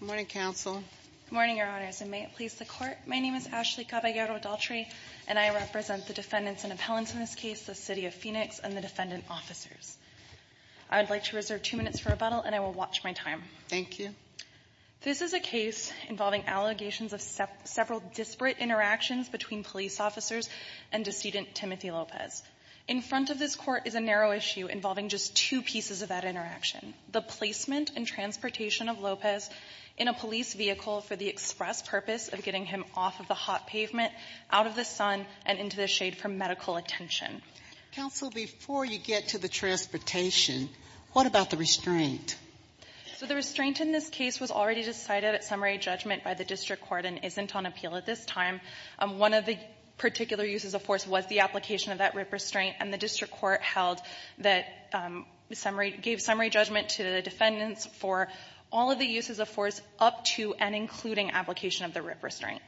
Good morning, Council. Good morning, Your Honors, and may it please the Court, my name is Ashley Caballero-Daltrey and I represent the defendants and appellants in this case, the City of Phoenix and the defendant officers. I would like to reserve two minutes for rebuttal and I will watch my time. Thank you. This is a case involving allegations of several disparate interactions between police officers and decedent Timothy Lopez. In front of this Court is a narrow issue involving just two pieces of that interaction. The placement and transportation of Lopez in a police vehicle for the express purpose of getting him off of the hot pavement, out of the sun, and into the shade for medical attention. Counsel, before you get to the transportation, what about the restraint? So the restraint in this case was already decided at summary judgment by the district court and isn't on appeal at this time. One of the particular uses of force was the application of that RIP restraint and the district court held that summary gave summary judgment to the defendants for all of the uses of force up to and including application of the RIP restraint.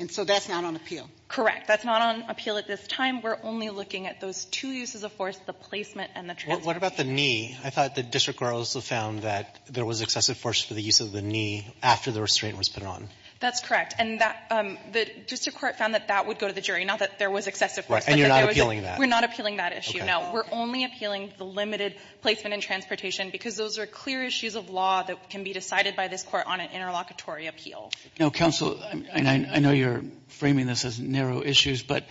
And so that's not on appeal? Correct. That's not on appeal at this time. We're only looking at those two uses of force, the placement and the transportation. What about the knee? I thought the district court also found that there was excessive force for the use of the knee after the restraint was put on. That's correct. And that the district court found that that would go to the jury, not that there was excessive force. And you're not appealing that? We're not appealing that issue. Now, we're only appealing the limited placement and transportation because those are clear issues of law that can be decided by this Court on an interlocutory appeal. Now, counsel, I know you're framing this as narrow issues, but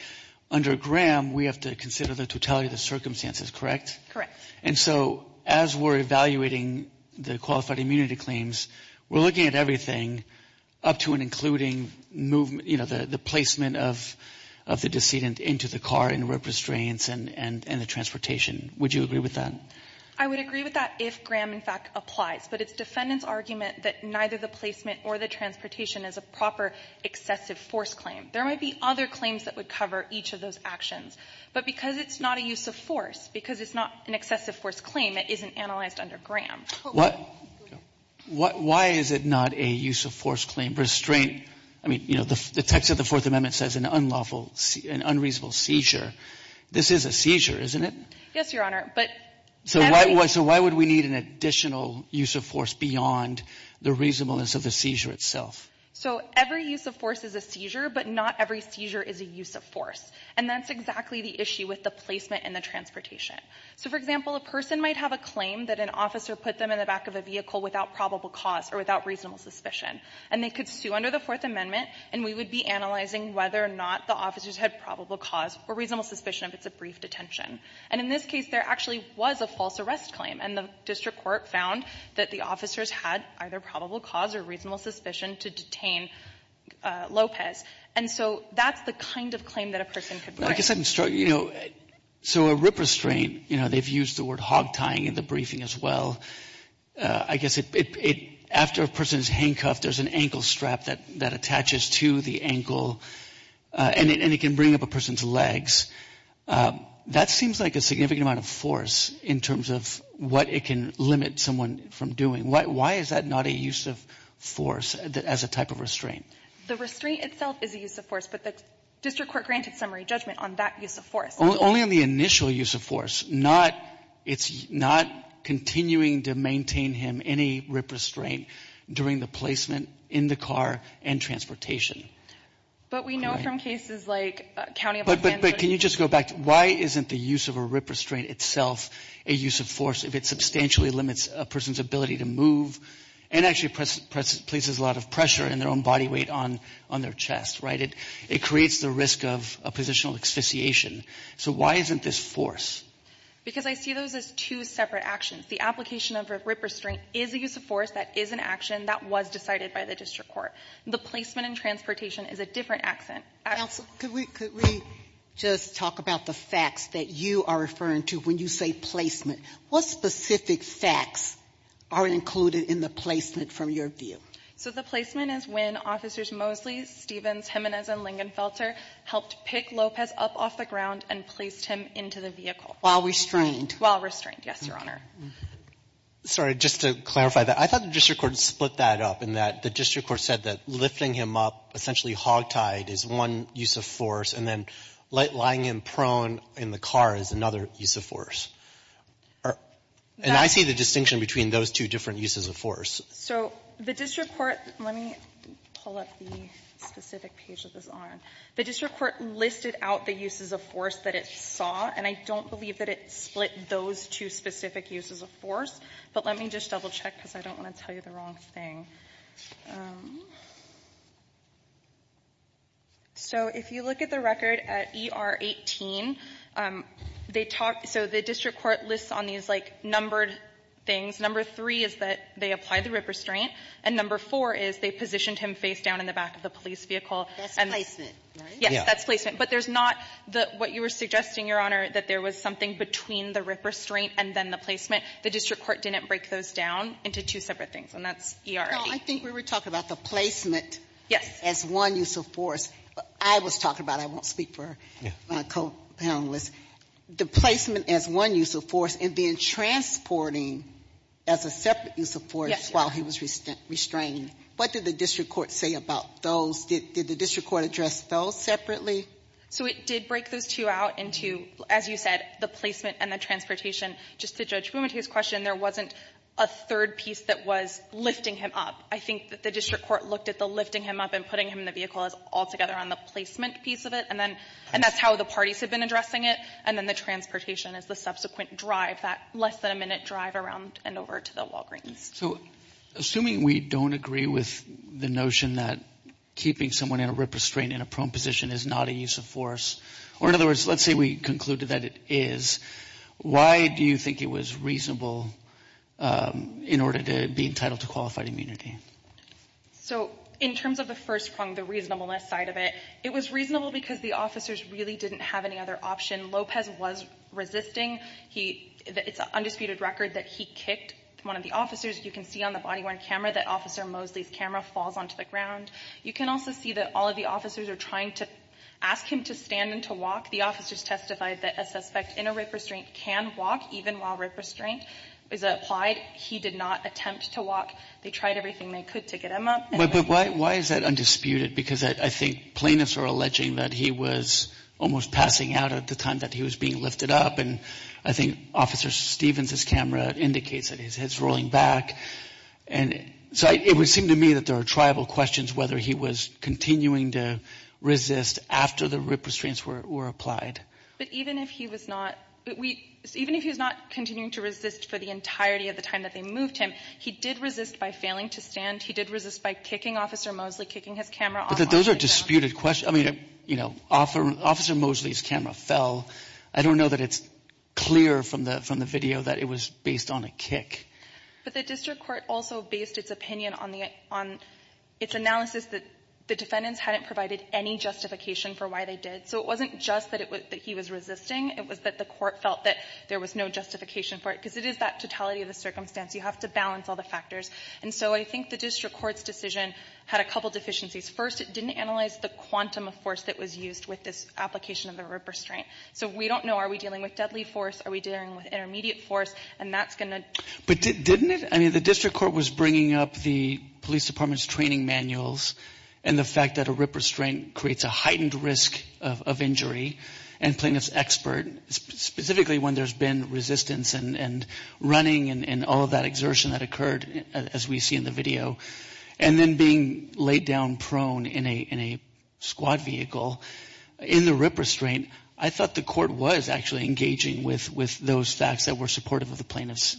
under Graham, we have to consider the totality of the circumstances, correct? Correct. And so as we're evaluating the qualified immunity claims, we're looking at everything up to and including movement, you know, the placement of the decedent into the car in RIP restraints and the transportation. Would you agree with that? I would agree with that if Graham, in fact, applies. But it's defendant's argument that neither the placement or the transportation is a proper excessive force claim. There might be other claims that would cover each of those actions. But because it's not a use of force, because it's not an excessive force claim, it isn't analyzed under Graham. Why is it not a use of force claim? Restraint, I mean, you know, the text of the Fourth Amendment says an unlawful, an unreasonable seizure. This is a seizure, isn't it? Yes, Your Honor. So why would we need an additional use of force beyond the reasonableness of the seizure itself? So every use of force is a seizure, but not every seizure is a use of force. And that's exactly the issue with the placement and the transportation. So, for example, a person might have a claim that an officer put them in the back of a vehicle without probable cause or without reasonable suspicion. And they could sue under the Fourth Amendment, and we would be analyzing whether or not the officers had probable cause or reasonable suspicion if it's a brief detention. And in this case, there actually was a false arrest claim, and the district court found that the officers had either probable cause or reasonable suspicion to detain Lopez. And so that's the kind of claim that a person could bring. I guess I'm struggling, you know, so a rip restraint, you know, they've used the word hog tying in the briefing as well. I guess it, after a person is handcuffed, there's an ankle strap that attaches to the ankle, and it can bring up a person's legs. That seems like a significant amount of force in terms of what it can limit someone from doing. Why is that not a use of force as a type of restraint? The restraint itself is a use of force, but the district court granted summary judgment on that use of force. Only on the initial use of force, not, it's not continuing to maintain him any rip restraint during the placement in the car and transportation. But we know from cases like County of Lansing. But can you just go back, why isn't the use of a rip restraint itself a use of force if it substantially limits a person's ability to move and actually places a lot of pressure on their own body weight on their chest, right? It creates the risk of a positional asphyxiation. So why isn't this force? Because I see those as two separate actions. The application of a rip restraint is a use of force that is an action that was decided by the district court. The placement in transportation is a different action. Counsel, could we just talk about the facts that you are referring to when you say placement? What specific facts are included in the placement from your view? So the placement is when officers Mosley, Stevens, Jimenez, and Lingenfelter helped pick Lopez up off the ground and placed him into the vehicle. While restrained. While restrained, yes, your honor. Sorry, just to clarify that. I thought the district court split that up in that the district court said that lifting him up, essentially hogtied, is one use of force. And then lying him prone in the car is another use of force. And I see the distinction between those two different uses of force. So the district court, let me pull up the specific page that was on. The district court listed out the uses of force that it saw. And I don't believe that it split those two specific uses of force. But let me just double-check because I don't want to tell you the wrong thing. So if you look at the record at ER-18, they talk so the district court lists on these like numbered things, number three is that they applied the rip restraint, and number four is they positioned him face down in the back of the police vehicle. That's placement, right? Yes, that's placement. But there's not the what you were suggesting, your honor, that there was something between the rip restraint and then the placement. The district court didn't break those down into two separate things, and that's ER-18. No, I think we were talking about the placement as one use of force. I was talking about it. I won't speak for my co-panelists. The placement as one use of force and then transporting as a separate use of force while he was restrained. What did the district court say about those? Did the district court address those separately? So it did break those two out into, as you said, the placement and the transportation. Just to Judge Bumate's question, there wasn't a third piece that was lifting him up. I think that the district court looked at the lifting him up and putting him in the vehicle as altogether on the placement piece of it, and then that's how the parties had been addressing it, and then the transportation as the subsequent drive, that less-than-a-minute drive around and over to the Walgreens. So, assuming we don't agree with the notion that keeping someone in a RIP restraint in a prone position is not a use of force, or in other words, let's say we concluded that it is, why do you think it was reasonable in order to be entitled to qualified immunity? So, in terms of the first prong, the reasonableness side of it, it was reasonable because the officers really didn't have any other option. Lopez was resisting. It's an undisputed record that he kicked one of the officers. You can see on the body-worn camera that Officer Mosley's camera falls onto the ground. You can also see that all of the officers are trying to ask him to stand and to walk. The officers testified that a suspect in a RIP restraint can walk even while RIP restraint is applied. He did not attempt to walk. They tried everything they could to get him up. But why is that undisputed? Because I think plaintiffs are alleging that he was almost passing out at the time that he was being lifted up, and I think Officer Stevens' camera indicates that his head's rolling back. And so it would seem to me that there are triable questions whether he was continuing to resist after the RIP restraints were applied. But even if he was not continuing to resist for the entirety of the time that they moved him, he did resist by failing to stand. He did resist by kicking Officer Mosley, kicking his camera off onto the ground. Those are disputed questions. Officer Mosley's camera fell. I don't know that it's clear from the video that it was based on a kick. But the district court also based its opinion on its analysis that the defendants hadn't provided any justification for why they did. So it wasn't just that he was resisting. It was that the court felt that there was no justification for it because it is that totality of the circumstance. You have to balance all the factors. And so I think the district court's decision had a couple deficiencies. First, it didn't analyze the quantum of force that was used with this application of the RIP restraint. So we don't know, are we dealing with deadly force? Are we dealing with intermediate force? And that's going to... But didn't it? I mean the district court was bringing up the police department's training manuals and the fact that a RIP restraint creates a heightened risk of injury and plaintiff's expert, specifically when there's been resistance and running and all of that exertion that occurred as we see in the video. And then being laid down prone in a squad vehicle in the RIP restraint, I thought the court was actually engaging with those facts that were supportive of the plaintiffs.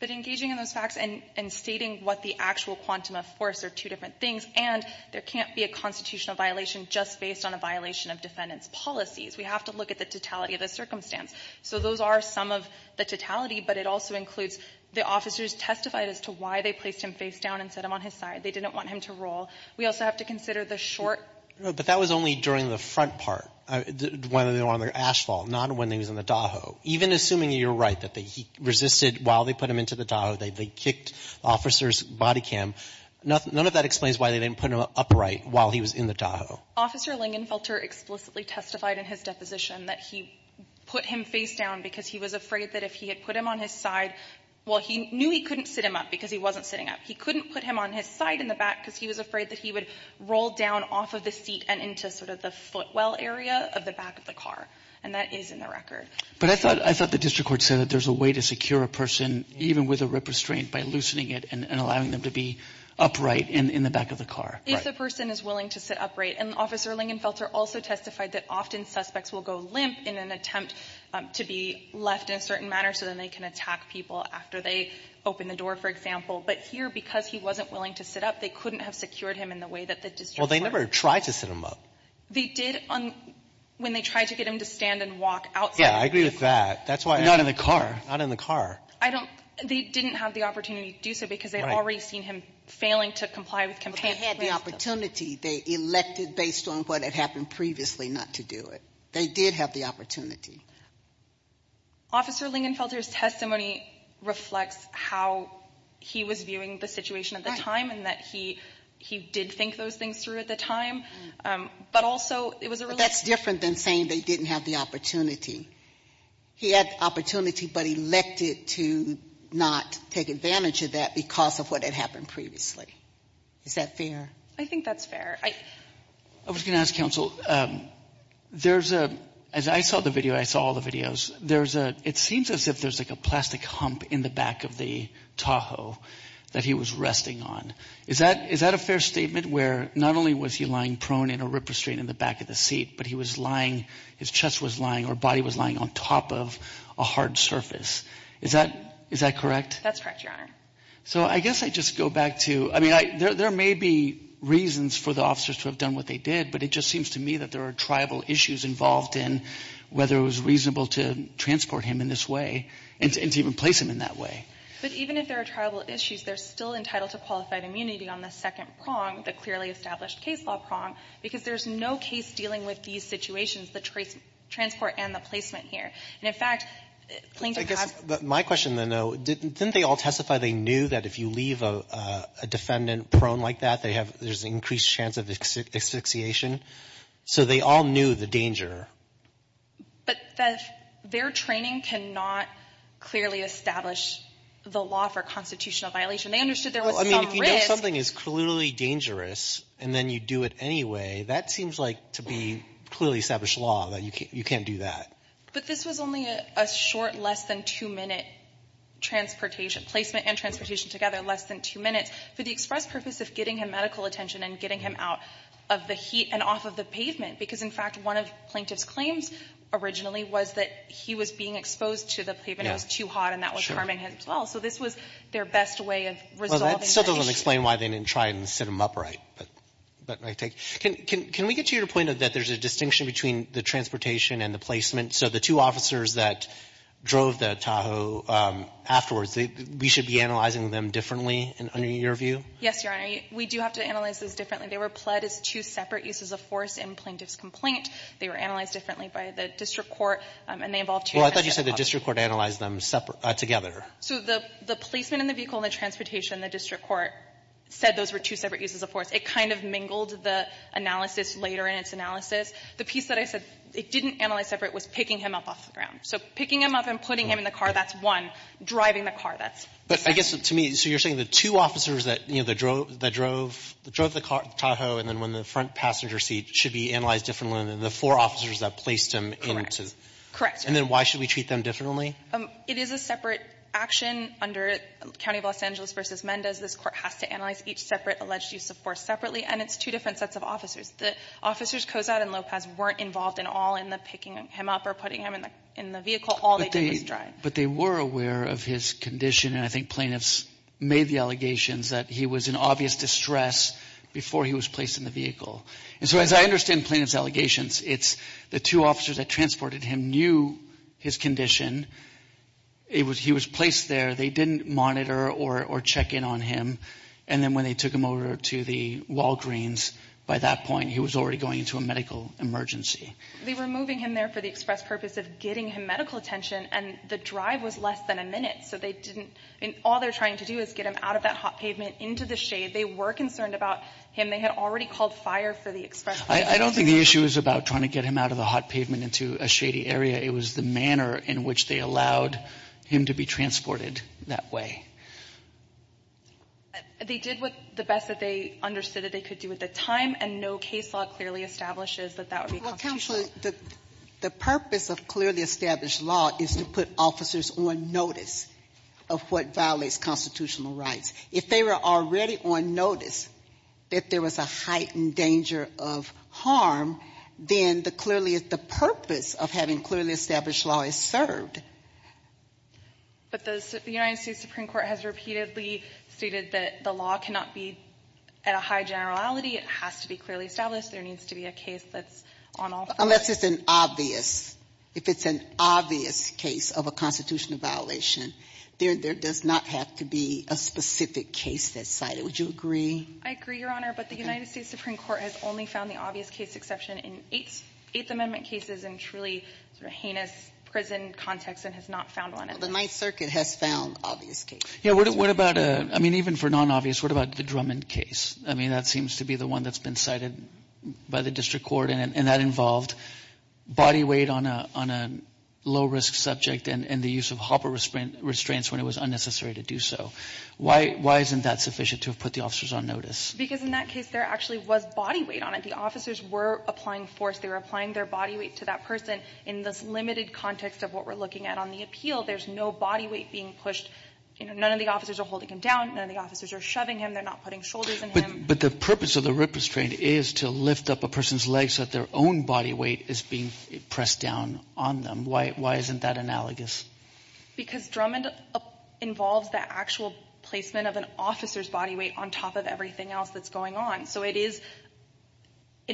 But engaging in those facts and stating what the actual quantum of force are two different things. And there can't be a constitutional violation just based on a violation of defendant's policies. We have to look at the totality of the circumstance. So those are some of the totality, but it also includes the officers who just testified as to why they placed him face down and set him on his side. They didn't want him to roll. We also have to consider the short... But that was only during the front part, when they were on the asphalt, not when he was in the Tahoe. Even assuming you're right that he resisted while they put him into the Tahoe, they kicked the officer's body cam. None of that explains why they didn't put him upright while he was in the Tahoe. Officer Lingenfelter explicitly testified in his deposition that he put him face down because he was afraid that if he had put him on his side, well, he knew he couldn't sit him up because he wasn't sitting up. He couldn't put him on his side in the back because he was afraid that he would roll down off of the seat and into sort of the footwell area of the back of the car. And that is in the record. But I thought the district court said that there's a way to secure a person, even with a rip restraint, by loosening it and allowing them to be upright in the back of the car. If the person is willing to sit upright. And Officer Lingenfelter also testified that often suspects will go limp in an attempt to be left in a certain manner so then they can attack people after they open the door, for example. But here, because he wasn't willing to sit up, they couldn't have secured him in the way that the district court. Well, they never tried to sit him up. They did when they tried to get him to stand and walk outside. Yeah, I agree with that. Not in the car. Not in the car. They didn't have the opportunity to do so because they had already seen him failing to comply with compliance. They had the opportunity. They elected based on what had happened previously not to do it. They did have the opportunity. Officer Lingenfelter's testimony reflects how he was viewing the situation at the time and that he did think those things through at the time. But also, it was a relationship. But that's different than saying they didn't have the opportunity. He had the opportunity, but he elected to not take advantage of that because of what had happened previously. Is that fair? I think that's fair. I was going to ask counsel, there's a, as I saw the video, I saw all the videos, it seems as if there's like a plastic hump in the back of the Tahoe that he was resting on. Is that a fair statement where not only was he lying prone in a rip restraint in the back of the seat, but he was lying, his chest was lying, or body was lying on top of a hard surface. Is that correct? That's correct, Your Honor. So I guess I just go back to, I mean there may be reasons for the officers to have done what they did, but it just seems to me that there are tribal issues involved in whether it was reasonable to transport him in this way and to even place him in that way. But even if there are tribal issues, they're still entitled to qualified immunity on the second prong, the clearly established case law prong, because there's no case dealing with these situations, the transport and the placement here. And in fact, Plaintiff has... My question, though, didn't they all testify they knew that if you leave a defendant prone like that, there's an increased chance of asphyxiation? So they all knew the danger. But their training cannot clearly establish the law for constitutional violation. They understood there was some risk. Well, I mean, if you know something is clearly dangerous and then you do it anyway, that seems like to be clearly established law that you can't do that. But this was only a short less than two minute transportation, placement and transportation together less than two minutes. For the express purpose of getting him medical attention and getting him out of the heat and off of the pavement. Because in fact, one of Plaintiff's claims originally was that he was being exposed to the pavement. It was too hot and that was harming him as well. So this was their best way of resolving the issue. Well, that still doesn't explain why they didn't try and sit him upright. Can we get to your point that there's a distinction between the transportation and the placement? So the two officers that drove the Tahoe afterwards, we should be analyzing them differently under your view? Yes, Your Honor. We do have to analyze those differently. They were pled as two separate uses of force in Plaintiff's complaint. They were analyzed differently by the district court and they involved two different officers. Well, I thought you said the district court analyzed them together. So the placement in the vehicle and the transportation, the district court said those were two separate uses of force. It kind of mingled the analysis later in its analysis. The piece that I said it didn't analyze separate was picking him up off the ground. So picking him up and putting him in the car, that's one. Driving the car, that's second. But I guess to me, so you're saying the two officers that drove the Tahoe and then went in the front passenger seat should be analyzed differently than the four officers that placed him into. And then why should we treat them differently? It is a separate action under County of Los Angeles v. Mendez. This Court has to analyze each separate alleged use of force separately and it's two different sets of officers. The officers Kozad and Lopez weren't involved at all in the picking him up or putting him in the vehicle. All they did was drive. But they were aware of his condition and I think plaintiffs made the allegations that he was in obvious distress before he was placed in the vehicle. And so as I understand plaintiffs' allegations, it's the two officers that transported him knew his condition. He was placed there. They didn't monitor or check in on him and then when they took him over to the Walgreens, by that point he was already going into a medical emergency. They were moving him there for the express purpose of getting him medical attention and the drive was less than a minute so they didn't, all they're trying to do is get him out of that hot pavement into the shade. They were concerned about him. They had already called fire for the express purpose. I don't think the issue is about trying to get him out of the hot pavement into a shady area. It was the manner in which they allowed him to be transported that way. They did the best that they understood that they could do at the time and no case law clearly establishes that that would be constitutional. The purpose of clearly established law is to put officers on notice of what violates constitutional rights. If they were already on notice that there was a heightened danger of harm then the purpose of having clearly established law is served. But the United States Supreme Court has repeatedly stated that the law cannot be at a high generality. It has to be clearly established. There needs to be a case that's on all Unless it's an obvious If it's an obvious case of a constitutional violation there does not have to be a specific case that's cited. Would you agree? I agree, Your Honor, but the United States Supreme Court has only found the obvious case exception in 8th Amendment cases and truly heinous prison context and has not found one. The Ninth Circuit has found obvious cases. Even for non-obvious what about the Drummond case? That seems to be the one that's been cited by the District Court and that involved body weight on a low-risk subject and the use of hopper restraints when it was unnecessary to do so. Why isn't that sufficient to put the officers on notice? Because in that case there actually was body weight on it. The officers were applying force. They were applying their body weight to that person in this limited context of what we're looking at on the appeal. There's no body weight being pushed. None of the officers are holding him down. None of the officers are shoving him. They're not putting shoulders in him. But the purpose of the rip restraint is to lift up a person's legs so that their own body weight is being pressed down on them. Why isn't that analogous? Because Drummond involves the actual placement of an officer's body weight on top of everything else that's going on. So it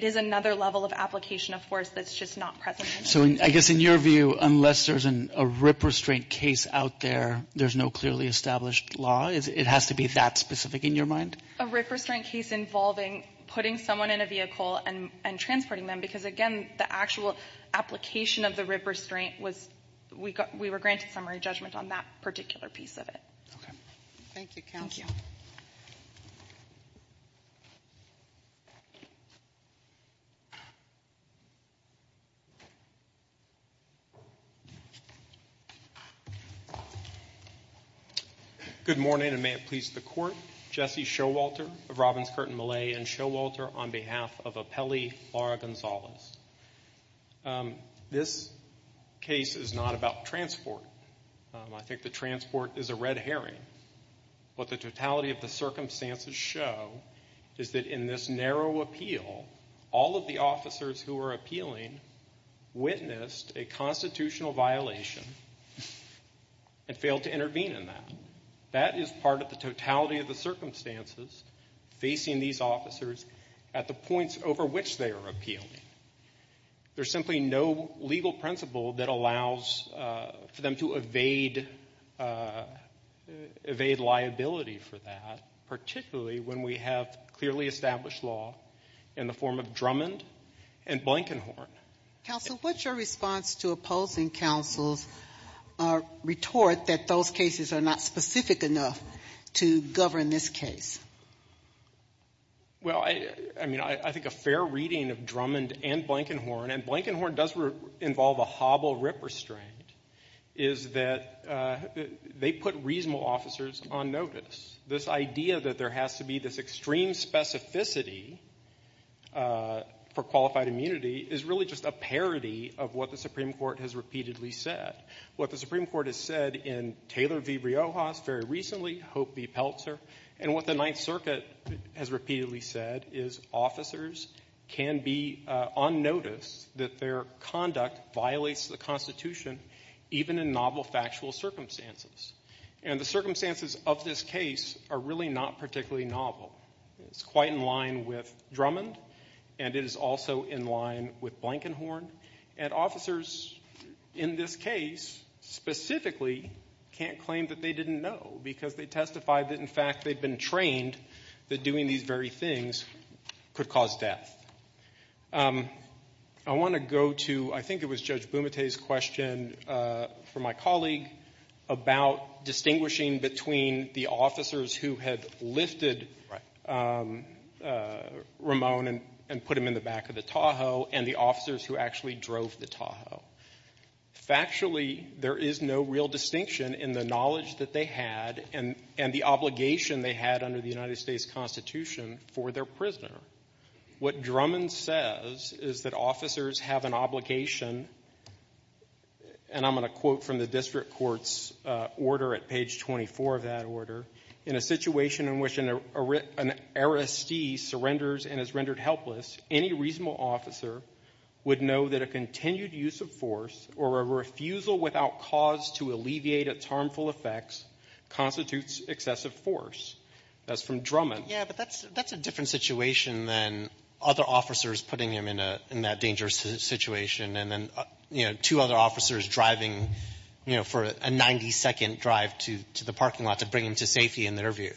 is another level of application of force that's just not present. So I guess in your view, unless there's a rip restraint case out there, there's no clearly established law? It has to be that specific in your mind? A rip restraint case involving putting someone in a vehicle and transporting them, because again, the actual application of the rip restraint was, we were granted summary judgment on that particular piece of it. Okay. Thank you, counsel. Good morning, and may it please the court. Jesse Showalter of Robbins Curtin Malay and Showalter on behalf of Apelli Lara Gonzalez. This case is not about transport. I think that transport is a red herring. What the totality of the circumstances show is that in this narrow appeal all of the officers who are appealing witnessed a constitutional violation and failed to intervene in that. That is part of the totality of the circumstances facing these officers at the points over which they are appealing. There's simply no legal principle that allows for them to liability for that, particularly when we have clearly established law in the form of Drummond and Blankenhorn. Counsel, what's your response to opposing counsel's retort that those cases are not specific enough to govern this case? Well, I think a fair reading of Drummond and Blankenhorn, and Blankenhorn does involve a hobble rip restraint, is that they put reasonable officers on notice. This idea that there has to be this extreme specificity for qualified immunity is really just a parody of what the Supreme Court has repeatedly said. What the Supreme Court has said in Taylor v. Riojas very recently, Hope v. Peltzer, and what the Ninth Circuit has repeatedly said is officers can be on notice that their conduct violates the Constitution even in novel factual circumstances. And the circumstances of this case are really not particularly novel. It's quite in line with Drummond, and it is also in line with Blankenhorn, and officers in this case specifically can't claim that they didn't know because they testified that in fact they've been trained that doing these very things could cause death. I want to go to, I think it was Judge Bumate's question for my colleague about distinguishing between the officers who had lifted Ramon and put him in the back of the Tahoe and the officers who actually drove the Tahoe. Factually, there is no real distinction in the knowledge that they had and the obligation they had under the United States Constitution for their prisoner. What Drummond says is that officers have an obligation and I'm going to quote from the District Court's order at page 24 of that order in a situation in which an arrestee surrenders and is rendered helpless, any reasonable officer would know that a continued use of force or a refusal without cause to alleviate its harmful effects constitutes excessive force. That's from Drummond. Yeah, but that's a different situation than other officers putting him in that dangerous situation and two other officers driving for a 90-second drive to the parking lot to bring him to safety in their view.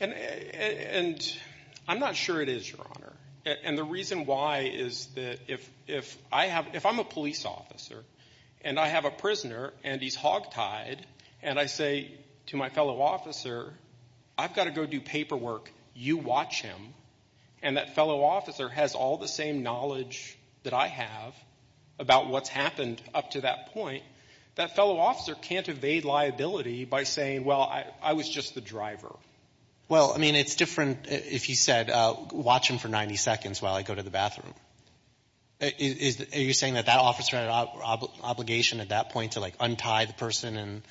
I'm not sure it is, Your Honor, and the reason why is that if I'm a police officer and I have a prisoner and he's hog-tied and I say to my fellow officer, I've got to go do paperwork, you watch him, and that fellow officer has all the same knowledge that I have about what's happened up to that point, that fellow officer can't evade liability by saying, well, I was just the driver. Well, I mean, it's different if you said, watch him for 90 seconds while I go to the bathroom. Are you saying that that officer had an obligation at that point to untie the person?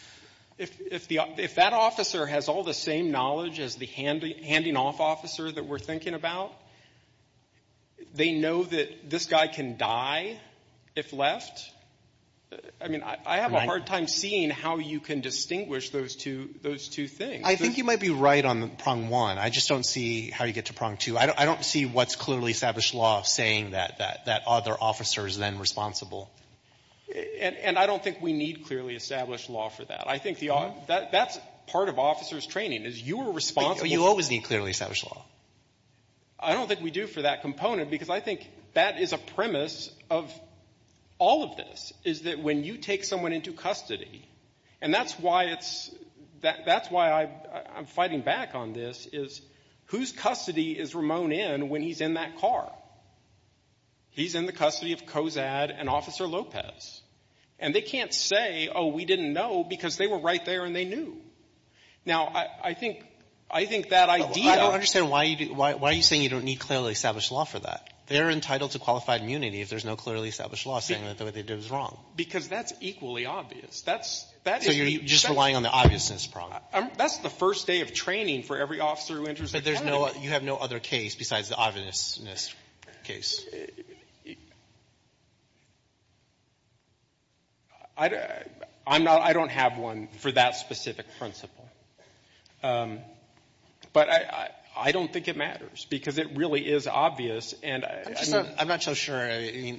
If that officer has all the same knowledge as the handing-off officer that we're thinking about, they know that this guy can die if left? I mean, I have a hard time seeing how you can distinguish those two things. I think you might be right on prong one. I just don't see how you get to prong two. I don't see what's clearly established law saying that other officer is then responsible. And I don't think we need clearly established law for that. I think that's part of officer's training, is you are responsible You always need clearly established law. I don't think we do for that component because I think that is a premise of all of this is that when you take someone into custody and that's why I'm fighting back on this, is whose custody is Ramon in when he's in that car? He's in the custody of COZAD and Officer Lopez. And they can't say, oh, we didn't know because they were right there and they knew. Now, I think that idea Why are you saying you don't need clearly established law for that? They're entitled to qualified immunity if there's no clearly established law saying that what they did was wrong. Because that's equally obvious. So you're just relying on the obviousness prong. That's the first day of training for every officer who enters the academy. But you have no other case besides the obviousness case. I don't have one for that specific principle. But I don't think it matters because it really is obvious I'm not so sure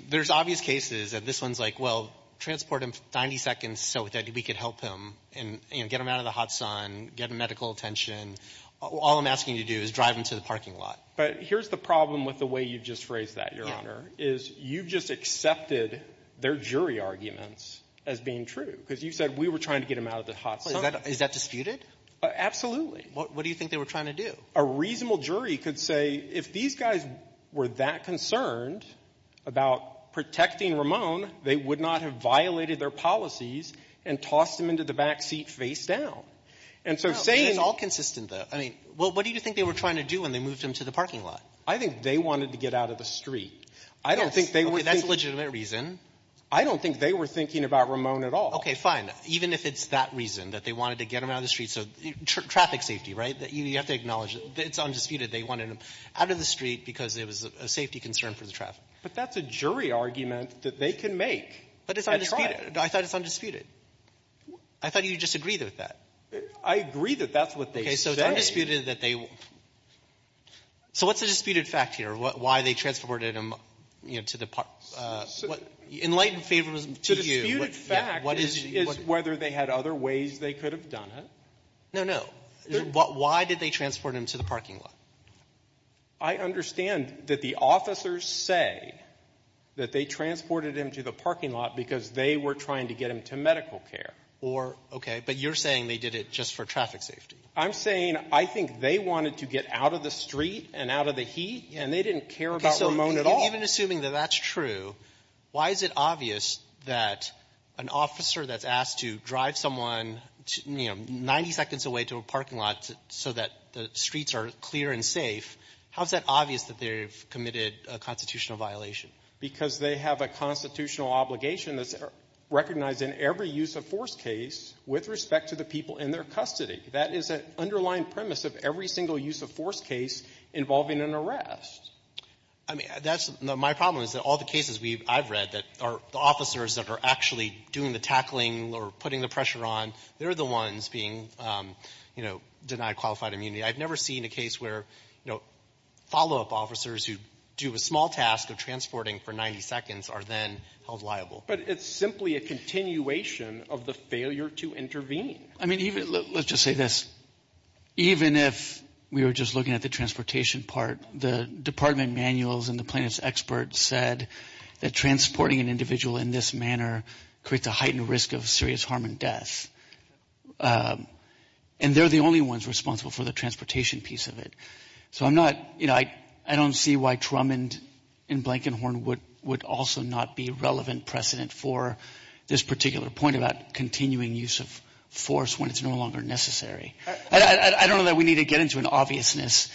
There's obvious cases that this one's like well, transport him 90 seconds so that we can help him get him out of the hot sun, get him medical attention All I'm asking you to do is drive him to the parking lot. But here's the problem with the way you just phrased that, Your Honor is you just accepted their jury arguments as being true. Because you said we were trying to get him out of the hot sun. Is that disputed? Absolutely. What do you think they were trying to do? A reasonable jury could say if these guys were that concerned about protecting Ramon they would not have violated their policies and tossed him into the backseat face down. It's all consistent, though. What do you think they were trying to do when they moved him to the parking lot? I think they wanted to get out of the street. I don't think they were thinking I don't think they were thinking about Ramon at all. Okay, fine. Even if it's that reason, that they wanted to get him out of the street so traffic safety, right? You have to acknowledge that it's undisputed they wanted him out of the street because it was a safety concern for the traffic. But that's a jury argument that they can make. But it's undisputed. I thought it's undisputed. I thought you just agreed with that. I agree that that's what they say. Okay, so it's undisputed that they So what's the disputed fact here? Why they transported him to the parking lot? Enlightened favoritism to you. The disputed fact is whether they had other ways they could have done it. No, no. Why did they transport him to the parking lot? I understand that the officers say that they transported him to the parking lot because they were trying to get him to medical care. Okay, but you're saying they did it just for traffic safety. I'm saying I think they wanted to get out of the street and out of the heat and they didn't care about Ramon at all. Even assuming that that's true, why is it obvious that an officer that's asked to drive someone 90 seconds away to a parking lot so that the streets are clear and safe, how is that obvious that they've committed a constitutional violation? Because they have a constitutional obligation that's recognized in every use of force case with respect to the people in their custody. That is an underlying premise of every single use of force case involving an arrest. My problem is that all the cases I've read are the officers that are actually doing the tackling or putting the pressure on, they're the ones being denied qualified immunity. I've never seen a case where follow-up officers who do a small task of transporting for 90 seconds are then held liable. But it's simply a continuation of the failure to intervene. Let's just say this. Even if we were just looking at the transportation part, the department manuals and the plaintiff's experts said that transporting an individual in this manner creates a heightened risk of serious harm and death. And they're the only ones responsible for the transportation piece of it. I don't see why Trumand and Blankenhorn would also not be relevant precedent for this particular point about continuing use of force when it's no longer necessary. I don't know that we need to get into an obviousness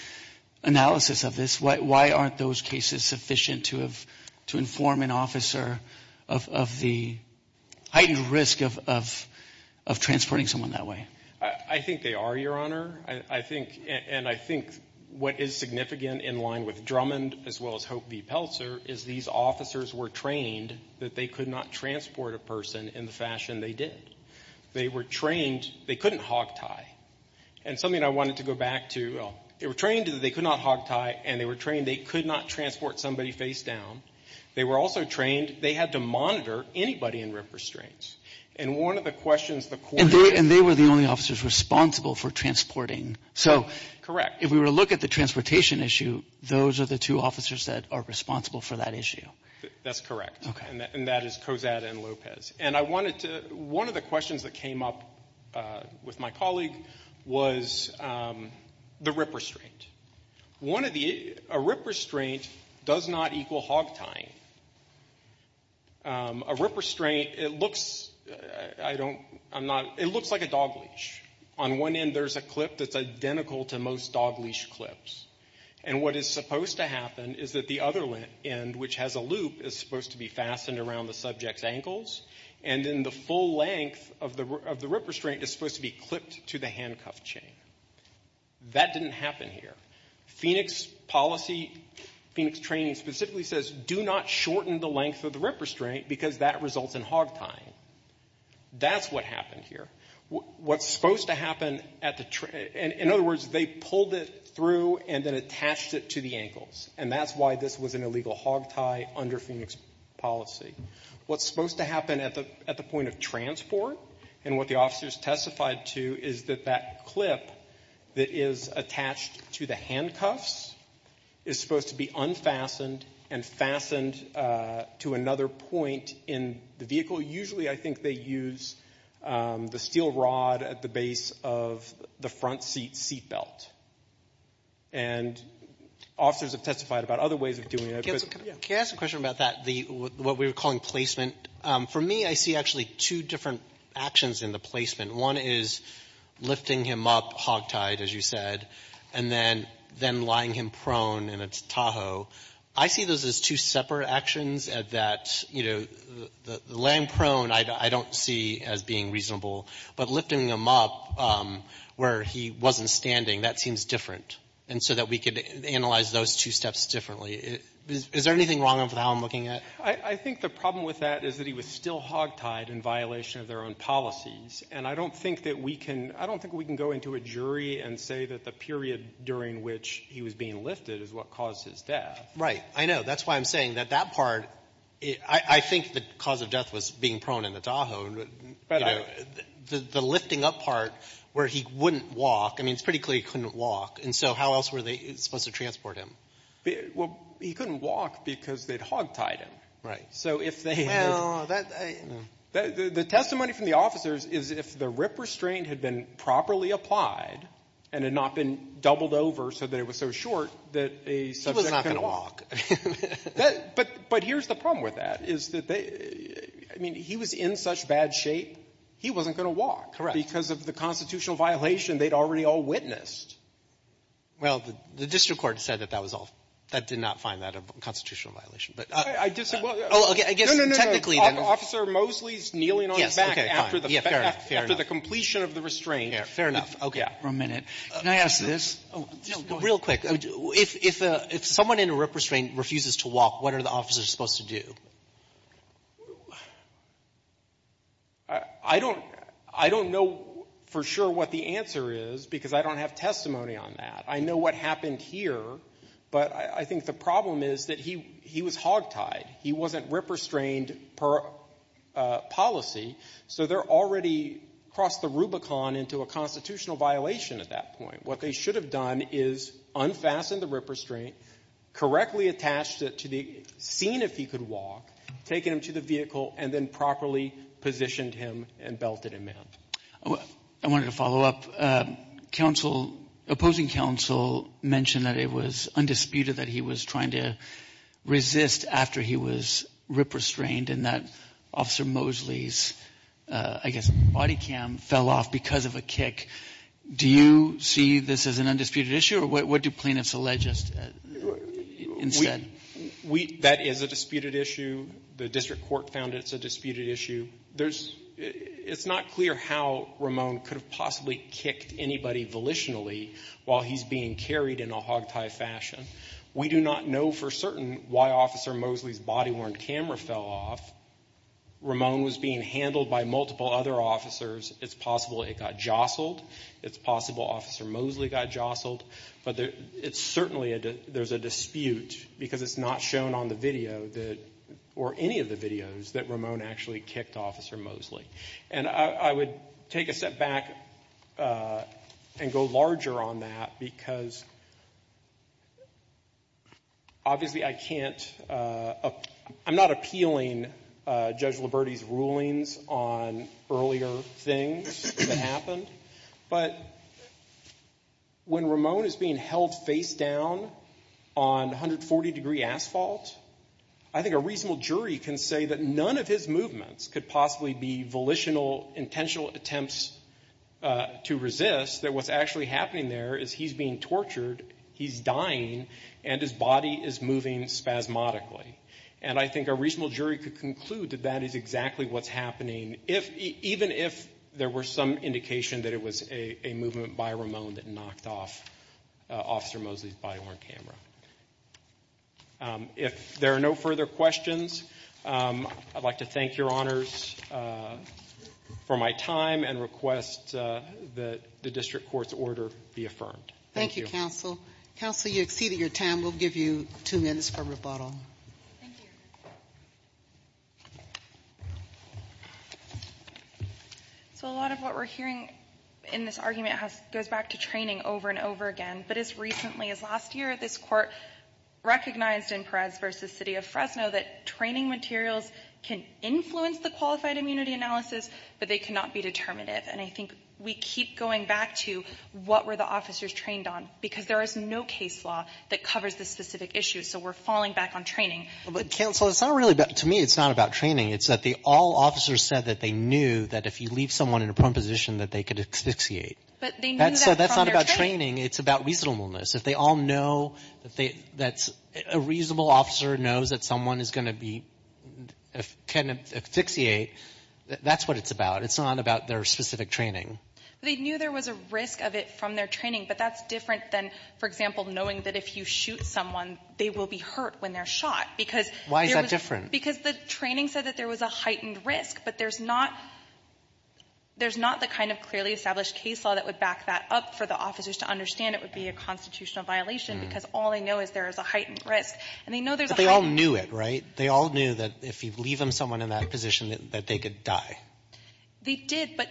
analysis of this. Why aren't those cases sufficient to inform an officer of the heightened risk of transporting someone that way? I think they are, Your Honor. And I think what is significant in line with Trumand as well as Hope v. Peltzer is these officers were trained that they could not transport a person in the fashion they did. They couldn't hog-tie. And something I wanted to go back to, they were trained that they could not hog-tie and they were trained they could not transport somebody face-down. They were also trained they had to monitor anybody in restraints. And they were the only officers responsible for transporting. So if we were to look at the transportation issue, those are the two officers that are responsible for that issue. That's correct. And that is one of the questions that came up with my colleague was the rip restraint. A rip restraint does not equal hog-tying. A rip restraint, it looks like a dog leash. On one end there's a clip that's identical to most dog leash clips. And what is supposed to happen is that the other end, which has a loop, is supposed to be fastened around the subject's ankles, and then the full length of the rip restraint is supposed to be clipped to the handcuff chain. That didn't happen here. Phoenix Policy, Phoenix Training specifically says do not shorten the length of the rip restraint because that results in hog-tying. That's what happened here. What's supposed to happen at the, in other words, they pulled it through and then attached it to the ankles. And that's why this was an illegal hog-tie under Phoenix Policy. What's supposed to happen at the point of transport and what the officers testified to is that that clip that is attached to the handcuffs is supposed to be unfastened and fastened to another point in the vehicle. Usually I think they use the steel rod at the base of the front seat seat belt. And officers have testified about other ways of doing it. Can I ask a question about that? What we were calling placement. For me, I see actually two different actions in the placement. One is lifting him up hog-tied, as you said, and then lying him prone in a Tahoe. I see those as two separate actions that laying prone I don't see as being reasonable. But lifting him up where he wasn't standing, that seems different. And so that we could analyze those two steps differently. Is there anything wrong with how I'm looking at it? I think the problem with that is that he was still hog-tied in violation of their own policies. And I don't think that we can I don't think we can go into a jury and say that the period during which he was being lifted is what caused his death. Right. I know. That's why I'm saying that that part, I think the cause of death was being prone in the Tahoe. But the lifting up part where he wouldn't walk, I mean, it's pretty clear he couldn't walk. And so how else were they supposed to transport him? Well, he couldn't walk because they'd hog-tied him. So if they had... The testimony from the officers is if the RIP restraint had been properly applied and had not been doubled over so that it was so short that a subsection could walk. He was not going to walk. But here's the problem with that. I mean, he was in such bad shape he wasn't going to walk because of the constitutional violation they'd already all witnessed. Well, the district court said that that was all that did not find that a constitutional violation. But I guess technically... No, no, no, no. Officer Mosley's kneeling on his back after the completion of the restraint. Fair enough. Okay. One minute. Can I ask this? Real quick. If someone in a RIP restraint refuses to walk, what are the officers supposed to do? I don't know for sure what the answer is because I don't have testimony on that. I know what happened here but I think the problem is that he was hogtied. He wasn't RIP restrained per policy. So they're already crossed the Rubicon into a constitutional violation at that point. What they should have done is unfasten the RIP restraint, correctly attached it to the scene if he could walk, taken him to the vehicle and then properly positioned him and belted him out. I wanted to follow up. Opposing counsel mentioned that it was undisputed that he was trying to resist after he was RIP restrained and that Officer Mosley's I guess body cam fell off because of a kick. Do you see this as an undisputed issue or what do plaintiffs allege instead? That is a disputed issue. The district court found it's a disputed issue. It's not clear how Ramon could have possibly kicked anybody volitionally while he's being carried in a hogtie fashion. We do not know for certain why Officer Mosley's body worn camera fell off. Ramon was being handled by multiple other officers. It's possible it got jostled. It's possible Officer Mosley got jostled but it's certainly there's a dispute because it's not shown on the video or any of the videos that Ramon actually kicked Officer Mosley. I would take a step back and go larger on that because obviously I can't I'm not appealing Judge Liberty's rulings on earlier things that happened but when Ramon is being held face down on 140 degree asphalt I think a reasonable jury can say that none of his movements could possibly be volitional, intentional attempts to resist that what's actually happening there is he's being tortured, he's dying and his body is moving spasmodically and I think a reasonable jury could conclude that that is exactly what's happening even if there were some indication that it was a movement by Ramon that knocked off Officer Mosley's body-worn camera. If there are no further questions I'd like to thank your honors for my time and request that the district court's order be affirmed. Thank you Counsel. Counsel you exceeded your time we'll give you two minutes for rebuttal. So a lot of what we're hearing in this argument goes back to training over and over again but as recently as last year this court recognized in Perez v. City of Fresno that training materials can influence the qualified immunity analysis but they cannot be determinative and I think we keep going back to what were the officers trained on because there is no case law that covers this specific issue so we're falling back on training. Counsel to me it's not about training it's that all officers said that they knew that if you leave someone in a prone position that they could asphyxiate So that's not about training it's about reasonableness. If they all know that a reasonable officer knows that someone is going to be, can asphyxiate that's what it's about it's not about their specific training They knew there was a risk of it from their training but that's different than for example knowing that if you shoot someone they will be hurt when they're shot because the training said that there was a heightened risk but there's not there's not the kind of clearly established case law that would back that up for the officers to understand it would be a constitutional violation because all they know is there is a heightened risk But they all knew it, right? They all knew that if you leave them someone in that position that they could die They did but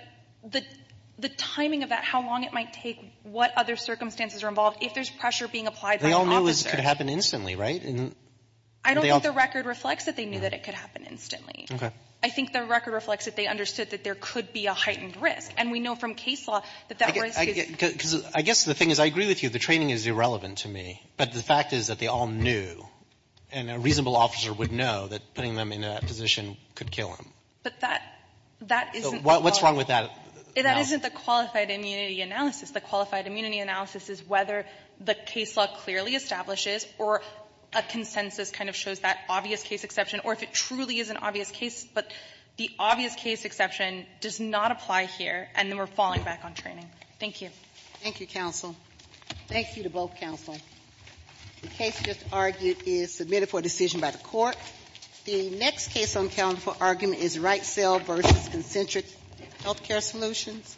the timing of that, how long it might take, what other circumstances are involved if there's pressure being applied by the officer They all knew it could happen instantly, right? I don't think the record reflects that they knew that it could happen instantly. I think the record reflects that they understood that there could be a heightened risk and we know from case law I guess the thing is I agree with you, the training is irrelevant to me but the fact is that they all knew and a reasonable officer would know that putting them in that position could kill them But that What's wrong with that? That isn't the qualified immunity analysis The qualified immunity analysis is whether the case law clearly establishes or a consensus kind of shows that obvious case exception or if it truly is an obvious case but the obvious case exception does not apply here and then we're falling back on training Thank you. Thank you counsel Thank you to both counsel The case just argued is submitted for decision by the court The next case on the calendar for argument is Wright Cell v. Concentric Healthcare Solutions